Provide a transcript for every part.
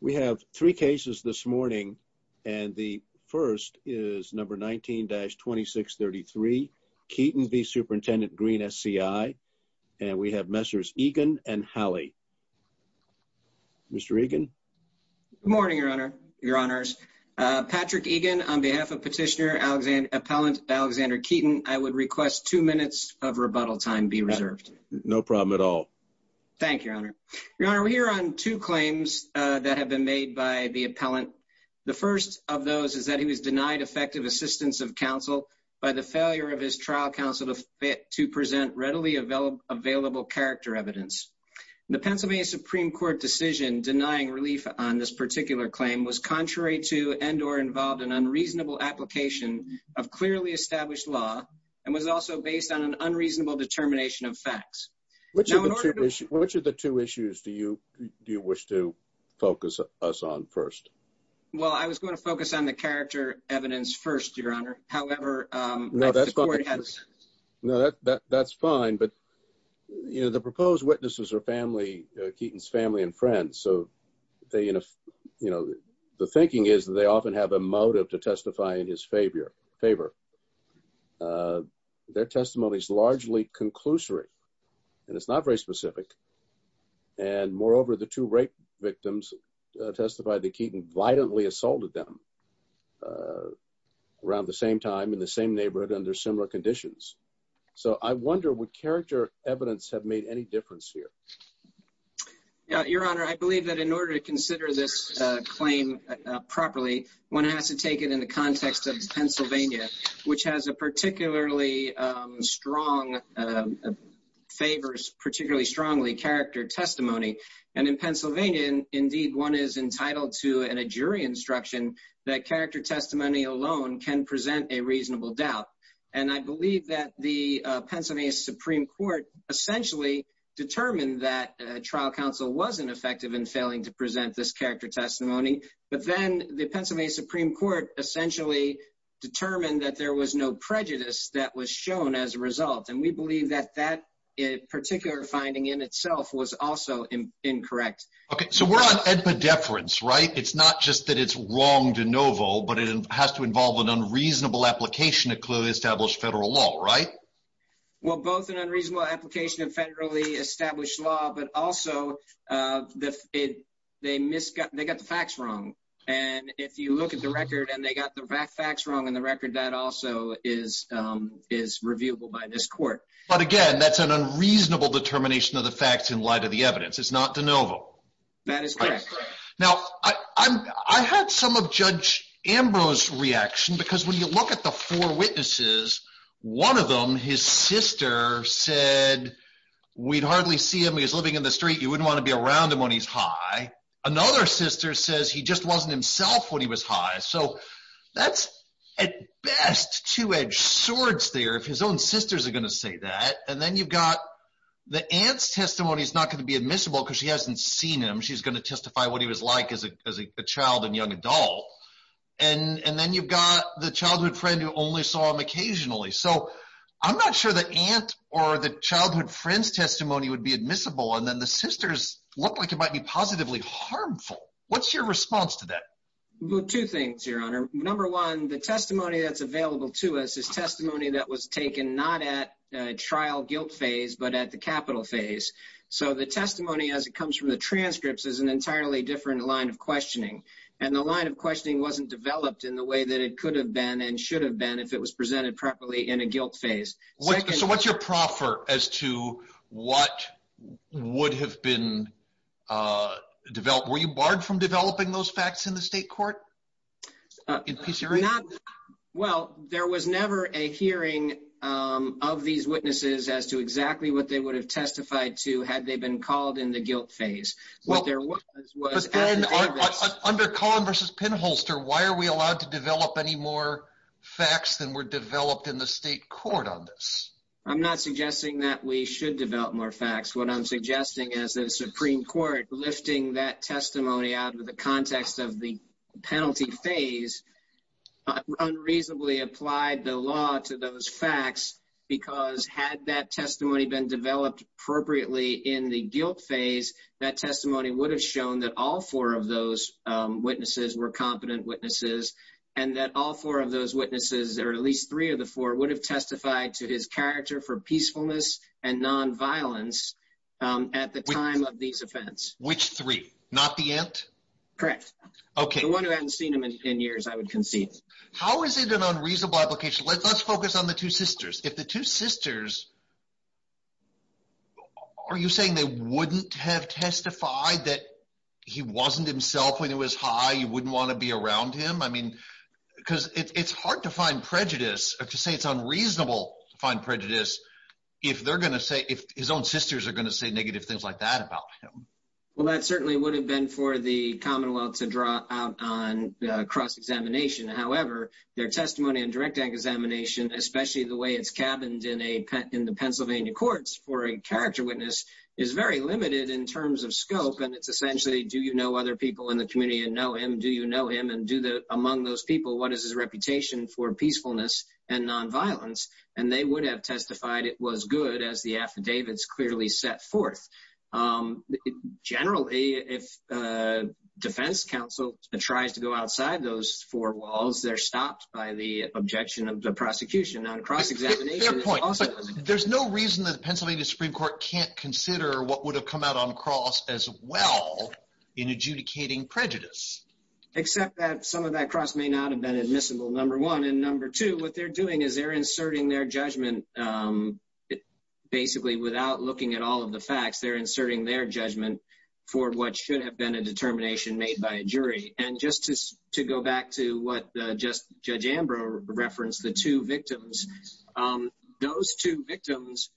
We have three cases this morning and the first is number 19-2633 Keaton v. Superintendent Greene SCI and we have Messrs. Egan and Hallie. Mr. Egan? Good morning your honor, your honors. Patrick Egan on behalf of Petitioner Alexander Appellant Alexander Keaton, I would request two minutes of rebuttal time be reserved. No problem at all. Thank you your honor. Your honor, we're here on two claims that have been made by the appellant. The first of those is that he was denied effective assistance of counsel by the failure of his trial counsel to present readily available character evidence. The Pennsylvania Supreme Court decision denying relief on this particular claim was contrary to and or involved an unreasonable application of clearly established law and was also based on an unreasonable determination of Which of the two issues do you do you wish to focus us on first? Well, I was going to focus on the character evidence first, your honor. However, No, that's fine, but you know the proposed witnesses are family, Keaton's family and friends. So they, you know, the thinking is that they often have a motive to testify in his favor. Their testimony is largely conclusory, and it's not very specific. And moreover, the two rape victims testified that Keaton violently assaulted them around the same time in the same neighborhood under similar conditions. So I wonder what character evidence have made any difference here. Yeah, your honor, I believe that in order to consider this claim properly, one has to take it in the context of Pennsylvania, which has a particularly strong favors particularly strongly character testimony. And in Pennsylvania, indeed, one is entitled to a jury instruction that character testimony alone can present a reasonable doubt. And I believe that the Pennsylvania Supreme Court essentially determined that trial counsel wasn't effective in failing to present this character testimony. But then the Pennsylvania Supreme Court essentially determined that there was no prejudice that was shown as a result. And we believe that that particular finding in itself was also incorrect. Okay, so we're on a difference, right? It's not just that it's wrong to Novo, but it has to involve an unreasonable application of clearly established federal law, right? Well, both an unreasonable application of federally established law, but also the they missed got they got the facts wrong. And if you look at the record, and they got the facts wrong in the record, that also is, is reviewable by this court. But again, that's an unreasonable determination of the facts in light of the evidence. It's not the Novo. That is correct. Now, I had some of Judge Ambrose reaction, because when you look at the four witnesses, one of them, his sister said, we'd hardly see him, he was living in the street, wouldn't want to be around him when he's high. Another sister says he just wasn't himself when he was high. So that's at best two edged swords there, if his own sisters are going to say that, and then you've got the aunt's testimony is not going to be admissible, because she hasn't seen him, she's going to testify what he was like as a child and young adult. And then you've got the childhood friend who only saw him occasionally. So I'm not sure that aunt or the childhood friend's testimony would be admissible. And then the sisters look like it might be positively harmful. What's your response to that? Well, two things, Your Honor. Number one, the testimony that's available to us is testimony that was taken not at trial guilt phase, but at the capital phase. So the testimony as it comes from the transcripts is an entirely different line of questioning. And the line of questioning wasn't developed in the way that it could have been and should have if it was presented properly in a guilt phase. So what's your proffer as to what would have been developed? Were you barred from developing those facts in the state court? Well, there was never a hearing of these witnesses as to exactly what they would have testified to had they been called in the guilt phase. Well, there was was Why are we allowed to develop any more facts than were developed in the state court on this? I'm not suggesting that we should develop more facts. What I'm suggesting is the Supreme Court lifting that testimony out of the context of the penalty phase unreasonably applied the law to those facts, because had that testimony been developed appropriately in the guilt phase, that testimony would have shown that all four of those witnesses were competent witnesses, and that all four of those witnesses or at least three of the four would have testified to his character for peacefulness and nonviolence at the time of these offense, which three not the end. Correct. Okay, one who hasn't seen him in 10 years, I would concede. How is it an unreasonable application? Let's focus on the two sisters. If the two sisters. Are you saying they wouldn't have testified that he wasn't himself when he was high? You wouldn't want to be around him? I mean, because it's hard to find prejudice or to say it's unreasonable to find prejudice if they're going to say if his own sisters are going to say negative things like that about him. Well, that certainly would have been for the Commonwealth to draw out on cross examination. However, their testimony and direct examination, especially the way it's in the Pennsylvania courts for a character witness is very limited in terms of scope. And it's essentially do you know other people in the community and know him? Do you know him? And do the among those people, what is his reputation for peacefulness and nonviolence? And they would have testified it was good as the affidavits clearly set forth. Generally, if defense counsel tries to go outside those four walls, they're stopped by the objection of the prosecution on their point. There's no reason that the Pennsylvania Supreme Court can't consider what would have come out on cross as well in adjudicating prejudice, except that some of that cross may not have been admissible. Number one. And number two, what they're doing is they're inserting their judgment. Basically, without looking at all of the facts, they're inserting their judgment for what should have been a determination made by a jury. And just to go back to what Judge Ambrose referenced, the two victims, those two victims,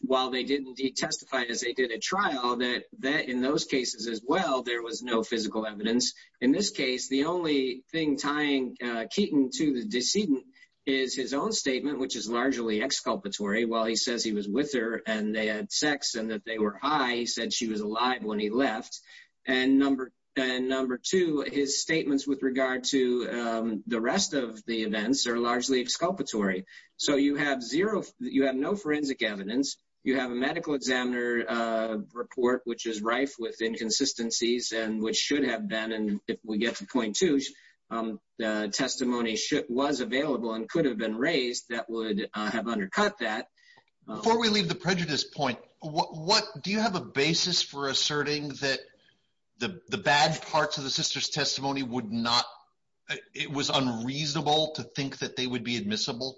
while they did indeed testify as they did at trial, that in those cases as well, there was no physical evidence. In this case, the only thing tying Keaton to the decedent is his own statement, which is largely exculpatory. While he says he was with her and they had sex and that they were high, he said she was alive when he left. And number two, his statements with regard to the rest of the events are largely exculpatory. So you have zero, you have no forensic evidence. You have a medical examiner report, which is rife with inconsistencies and which should have been. And if we get to point two, the testimony was available and could have been raised that would have undercut that. Before we leave the prejudice point, do you have a basis for asserting that the bad parts of the sister's testimony would not, it was unreasonable to think that they would be admissible?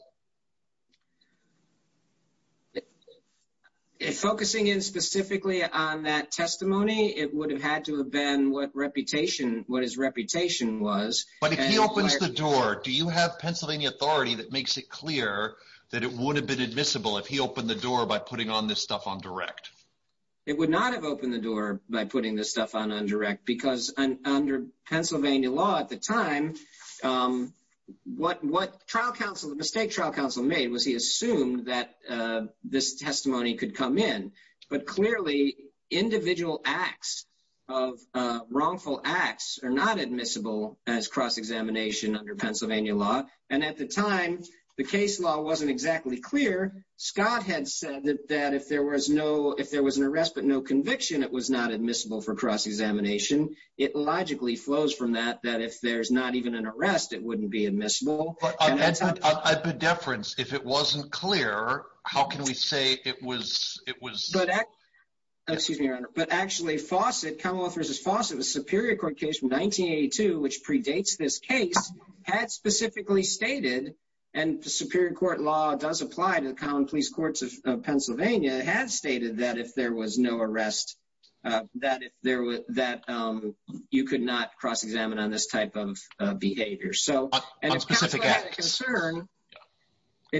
If focusing in specifically on that testimony, it would have had to have been what reputation, what his reputation was. But if he opens the door, do you have Pennsylvania authority that would have been admissible if he opened the door by putting on this stuff on direct? It would not have opened the door by putting this stuff on undirect because under Pennsylvania law at the time, what what trial counsel, the mistake trial counsel made was he assumed that this testimony could come in. But clearly, individual acts of wrongful acts are not admissible as cross clear. Scott had said that if there was no, if there was an arrest, but no conviction, it was not admissible for cross examination. It logically flows from that, that if there's not even an arrest, it wouldn't be admissible. If it wasn't clear, how can we say it was? But actually Fawcett Commonwealth versus Fawcett was superior court case from 1982, which predates this case had specifically stated and superior court law does apply to the common police courts of Pennsylvania has stated that if there was no arrest, that if there was that you could not cross examine on this type of behavior. So, it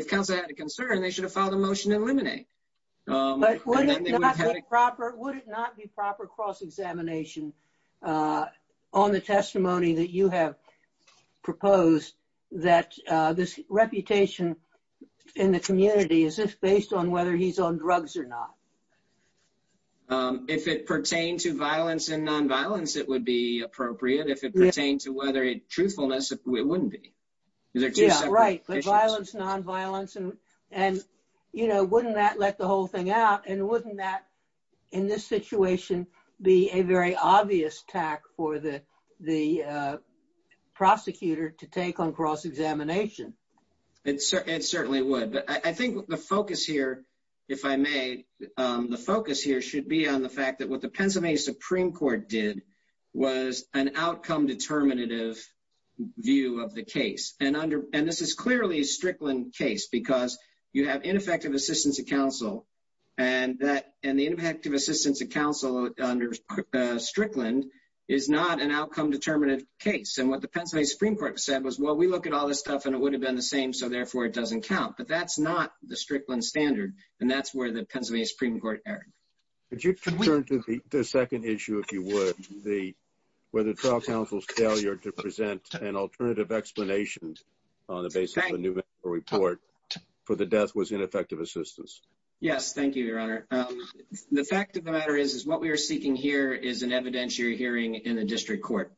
comes out of concern, they should have filed a motion to eliminate. But would it not be proper cross examination on the testimony that you have proposed that this reputation in the community is just based on whether he's on drugs or not? If it pertains to violence and nonviolence, it would be appropriate. If it pertains to whether it truthfulness, it wouldn't be. Yeah, right. But violence, nonviolence and, wouldn't that let the whole thing out? And wouldn't that, in this situation, be a very obvious tack for the prosecutor to take on cross examination? It certainly would. But I think the focus here, if I may, the focus here should be on the fact that what the Pennsylvania Supreme Court did was an outcome determinative view of the case. And this is clearly a Strickland case because you have ineffective assistance of counsel. And the ineffective assistance of counsel under Strickland is not an outcome determinative case. And what the Pennsylvania Supreme Court said was, well, we look at all this stuff and it would have been the same. So, therefore, it doesn't count. But that's not the Strickland standard. And that's where the Pennsylvania Supreme Court erred. Could you turn to the second issue, if you would, whether trial counsel's failure to present an alternative explanation on the basis of a report for the death was ineffective assistance? Yes. Thank you, Your Honor. The fact of the matter is, is what we are seeking here is an evidentiary hearing in the district court.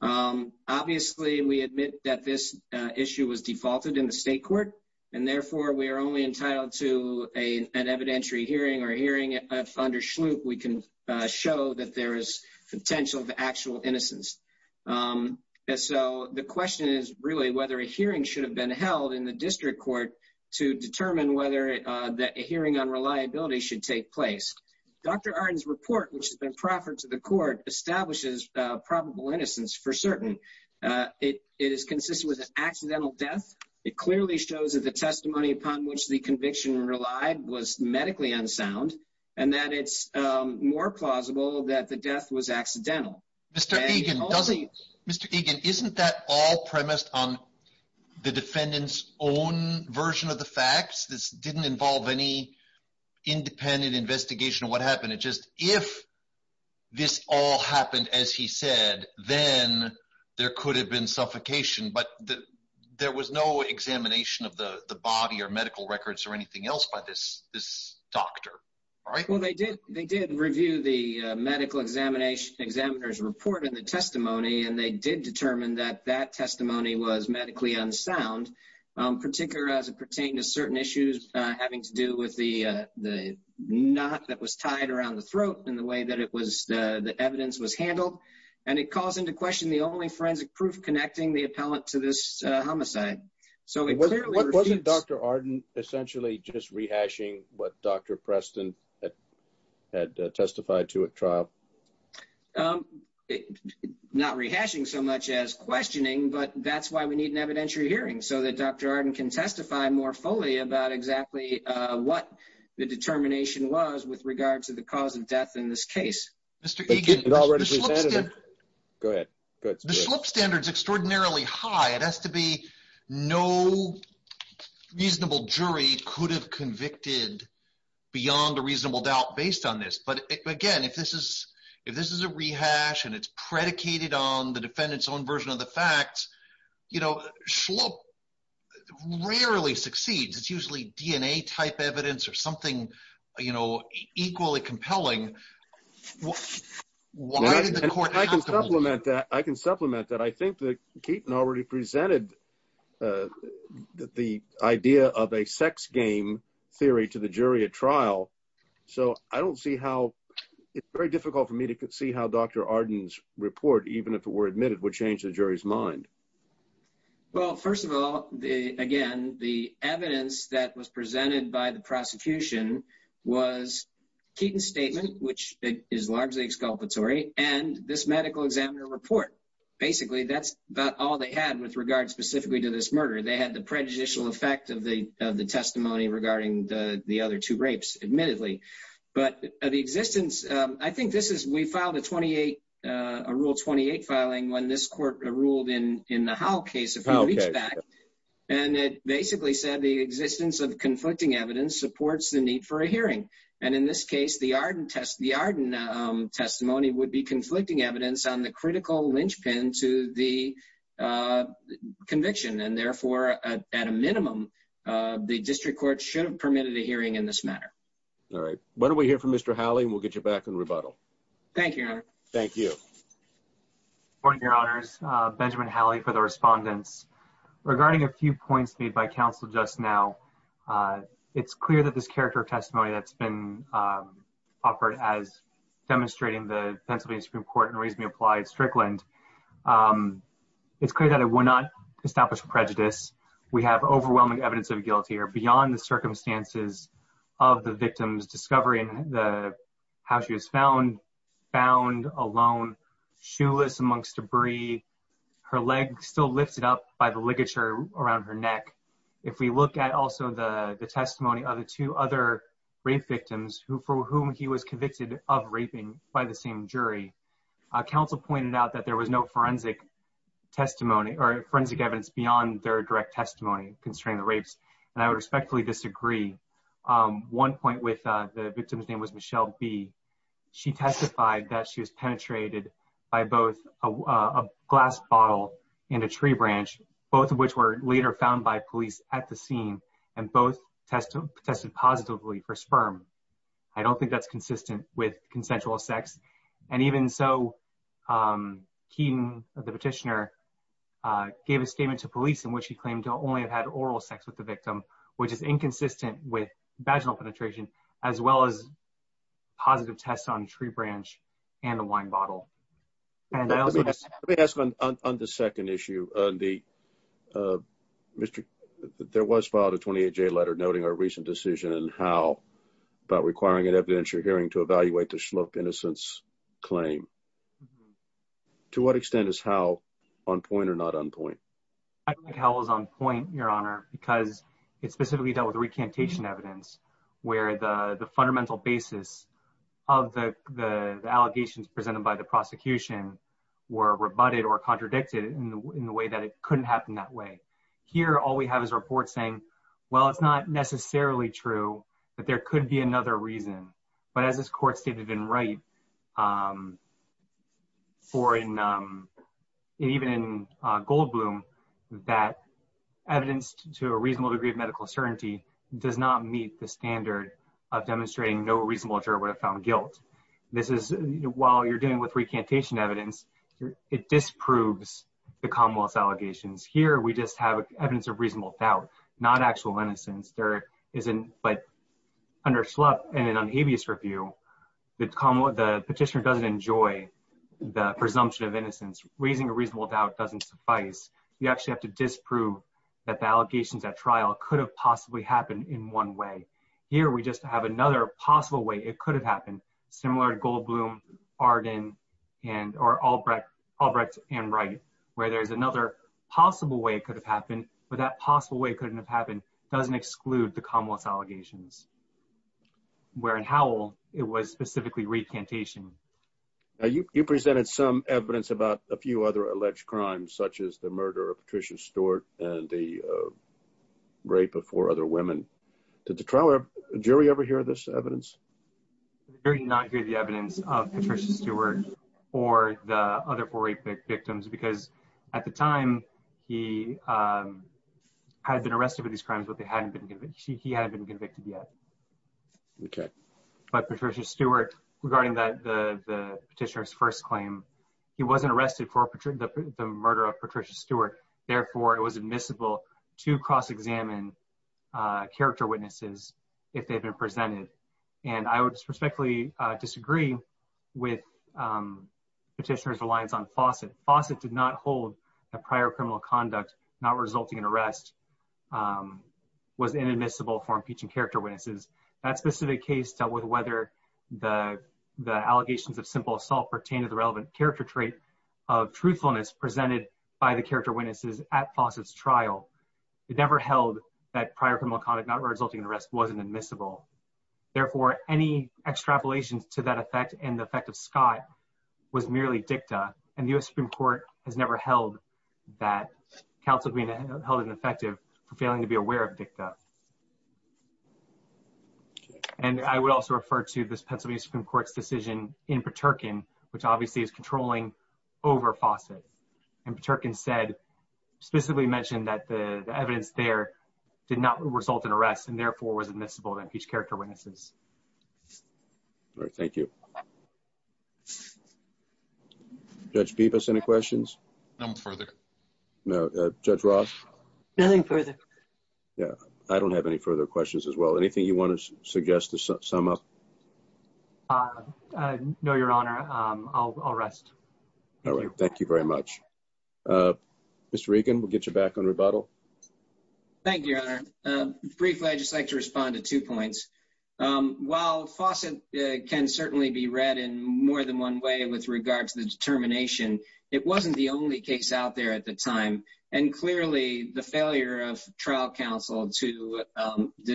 Obviously, we admit that this issue was defaulted in the state court. And therefore, we are only entitled to an evidentiary hearing or hearing if under Schlup, we can show that there is potential of actual innocence. So, the question is really whether a hearing should have been held in the district court to determine whether a hearing on reliability should take place. Dr. Arden's report, which has been proffered to the court, establishes probable innocence for certain. It is consistent with an accidental death. It clearly shows that the testimony upon which the conviction relied was medically unsound, and that it's more plausible that the death was accidental. Mr. Egan, isn't that all premised on the defendant's own version of the facts? This didn't involve any independent investigation of what happened. It's just if this all happened, as he said, then there could have been suffocation. But there was no examination of the body or anything else by this doctor. Well, they did review the medical examiner's report and the testimony, and they did determine that that testimony was medically unsound, particularly as it pertained to certain issues having to do with the knot that was tied around the throat and the way that the evidence was handled. And it calls into question the only rehashing what Dr. Preston had testified to at trial. Not rehashing so much as questioning, but that's why we need an evidentiary hearing, so that Dr. Arden can testify more fully about exactly what the determination was with regard to the cause of death in this case. Mr. Egan, the SHLUP standard is extraordinarily high. It has to be no reasonable jury could have convicted beyond a reasonable doubt based on this. But again, if this is a rehash and it's predicated on the defendant's own version of the facts, SHLUP rarely succeeds. It's usually a DNA-type evidence or something equally compelling. I can supplement that. I think that Keaton already presented the idea of a sex game theory to the jury at trial. It's very difficult for me to see how Dr. Arden's report, even if it were admitted, would change the jury's mind. Well, first of all, again, the evidence that was presented by the prosecution was Keaton's statement, which is largely exculpatory, and this medical examiner report. Basically, that's about all they had with regard specifically to this murder. They had the prejudicial effect of the testimony regarding the other two rapes, admittedly. The existence of conflicting evidence supports the need for a hearing. In this case, the Arden testimony would be conflicting evidence on the critical linchpin to the conviction. Therefore, at a minimum, the district court should have permitted a hearing in this matter. All right. Why don't we hear from Mr. Howley, and we'll get you back in rebuttal. Thank you, Your Honor. Thank you. Good morning, Your Honors. Benjamin Howley for the respondents. Regarding a few points made by counsel just now, it's clear that this character of testimony that's been offered as demonstrating the Pennsylvania Supreme Court in Reasonably Applied Strickland, it's clear that it will not establish prejudice. We have overwhelming evidence of guilt here. Beyond the circumstances of the victims discovering how she was found, found alone, shoeless amongst debris, her leg still lifted up by the ligature around her neck. If we look at also the testimony of the two other rape victims for whom he was convicted of raping by the same jury, counsel pointed out that there was no forensic testimony or forensic evidence beyond their direct testimony concerning the rapes. And I would respectfully disagree. One point with the victim's name was Michelle B. She testified that she was penetrated by both a glass bottle and a tree branch, both of which were later found by police at the scene, and both tested positively for sperm. I don't think that's consistent with consensual sex. And even so, Keaton, the petitioner, gave a statement to police in which he claimed to only have had oral sex with the victim, which is inconsistent with vaginal penetration, as well as positive tests on tree branch and the wine bottle. Let me ask on the second issue. There was filed a 28-J letter noting a recent decision in Howe about requiring an evidentiary hearing to evaluate the Shluck innocence claim. To what extent is Howe on point or not on point? I don't think Howe is on point, Your Honor, because it specifically dealt with recantation evidence, where the fundamental basis of the allegations presented by the prosecution were rebutted or contradicted in the way that it couldn't happen that way. Here, all we have is a report saying, well, it's not necessarily true, but there could be another reason. But as this court stated in Wright, even in Goldbloom, that evidence to a reasonable degree of medical certainty does not meet the standard of demonstrating no reasonable juror would have found guilt. While you're dealing with recantation evidence, it disproves the commonwealth's allegations. Here, we just have evidence of reasonable doubt, not actual innocence. But under Shluck, in an unhabeas review, the petitioner doesn't enjoy the presumption of innocence. Raising a reasonable doubt doesn't suffice. You actually have to disprove that the allegations at trial could have possibly happened in one way. Here, we just have another possible way it could have happened, similar to Goldbloom, Arden, or Albrecht and Wright, where there's another possible way it could have happened, but that possible way it couldn't have happened doesn't exclude the commonwealth's allegations. Where in Howell, it was specifically recantation. Now, you presented some evidence about a few other alleged crimes, such as the murder of Patricia Stewart and the rape of four other women. Did the trial jury ever hear this evidence? The jury did not hear the evidence of Patricia Stewart or the other four rape victims because at the time, he had been arrested for these crimes, but he hadn't been convicted yet. But Patricia Stewart, regarding the petitioner's first claim, he wasn't arrested for the murder of Patricia Stewart. Therefore, it was admissible to cross-examine character witnesses if they've been presented. And I would respectfully disagree with petitioner's reliance on Fawcett. Fawcett did not hold that prior criminal conduct, not resulting in arrest, was inadmissible for impeaching character witnesses. That specific case dealt with whether the allegations of simple assault pertained to the relevant character trait of truthfulness presented by the character witnesses at Fawcett's trial. It never held that prior criminal conduct, not resulting in arrest, wasn't admissible. Therefore, any extrapolation to that effect and the effect of Scott was merely dicta, and the U.S. Supreme Court has never held that counsel being held ineffective for failing to be aware of dicta. And I would also refer to this Pennsylvania Supreme Court's decision in Paterkin, which obviously is controlling over Fawcett. And Paterkin said, specifically mentioned that the evidence there did not result in arrest and therefore was admissible to impeach character witnesses. All right. Thank you. Judge Peebus, any questions? None further. No. Judge Ross? Nothing further. Yeah. I don't have any further questions as well. Anything you want to suggest to sum up? No, Your Honor. I'll rest. All right. Thank you very much. Mr. Regan, we'll get you back on rebuttal. Thank you, Your Honor. Briefly, I'd just like to respond to two points. While Fawcett can certainly be read in more than one way with regard to the determination, it wasn't the only case out there at the time. And clearly, the failure of trial counsel to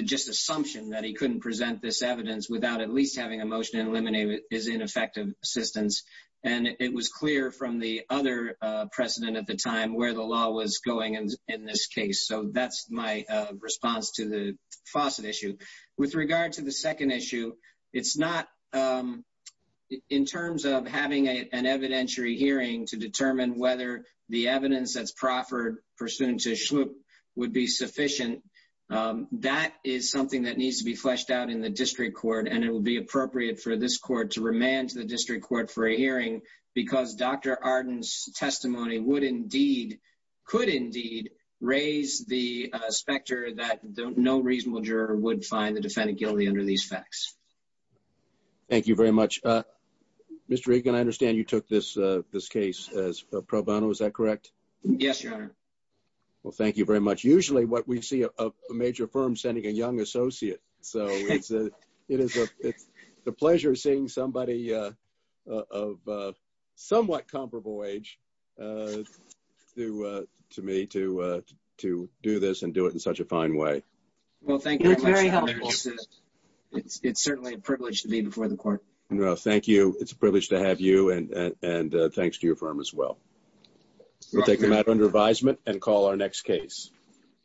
just assumption that he couldn't present this evidence without at least having a motion to effective assistance. And it was clear from the other precedent at the time where the law was going in this case. So that's my response to the Fawcett issue. With regard to the second issue, it's not in terms of having an evidentiary hearing to determine whether the evidence that's proffered pursuant to Shlup would be sufficient. That is something that needs to be fleshed out the district court. And it will be appropriate for this court to remand to the district court for a hearing because Dr. Arden's testimony would indeed, could indeed raise the specter that no reasonable juror would find the defendant guilty under these facts. Thank you very much. Mr. Regan, I understand you took this case as pro bono. Is that correct? Yes, Your Honor. Well, thank you very much. Usually what we see a major firm sending a young associate. So it's a pleasure seeing somebody of somewhat comparable age to me to do this and do it in such a fine way. Well, thank you. It's certainly a privilege to be before the court. No, thank you. It's a privilege to have you and thanks to your firm as well. We'll take them out under advisement and call our next case.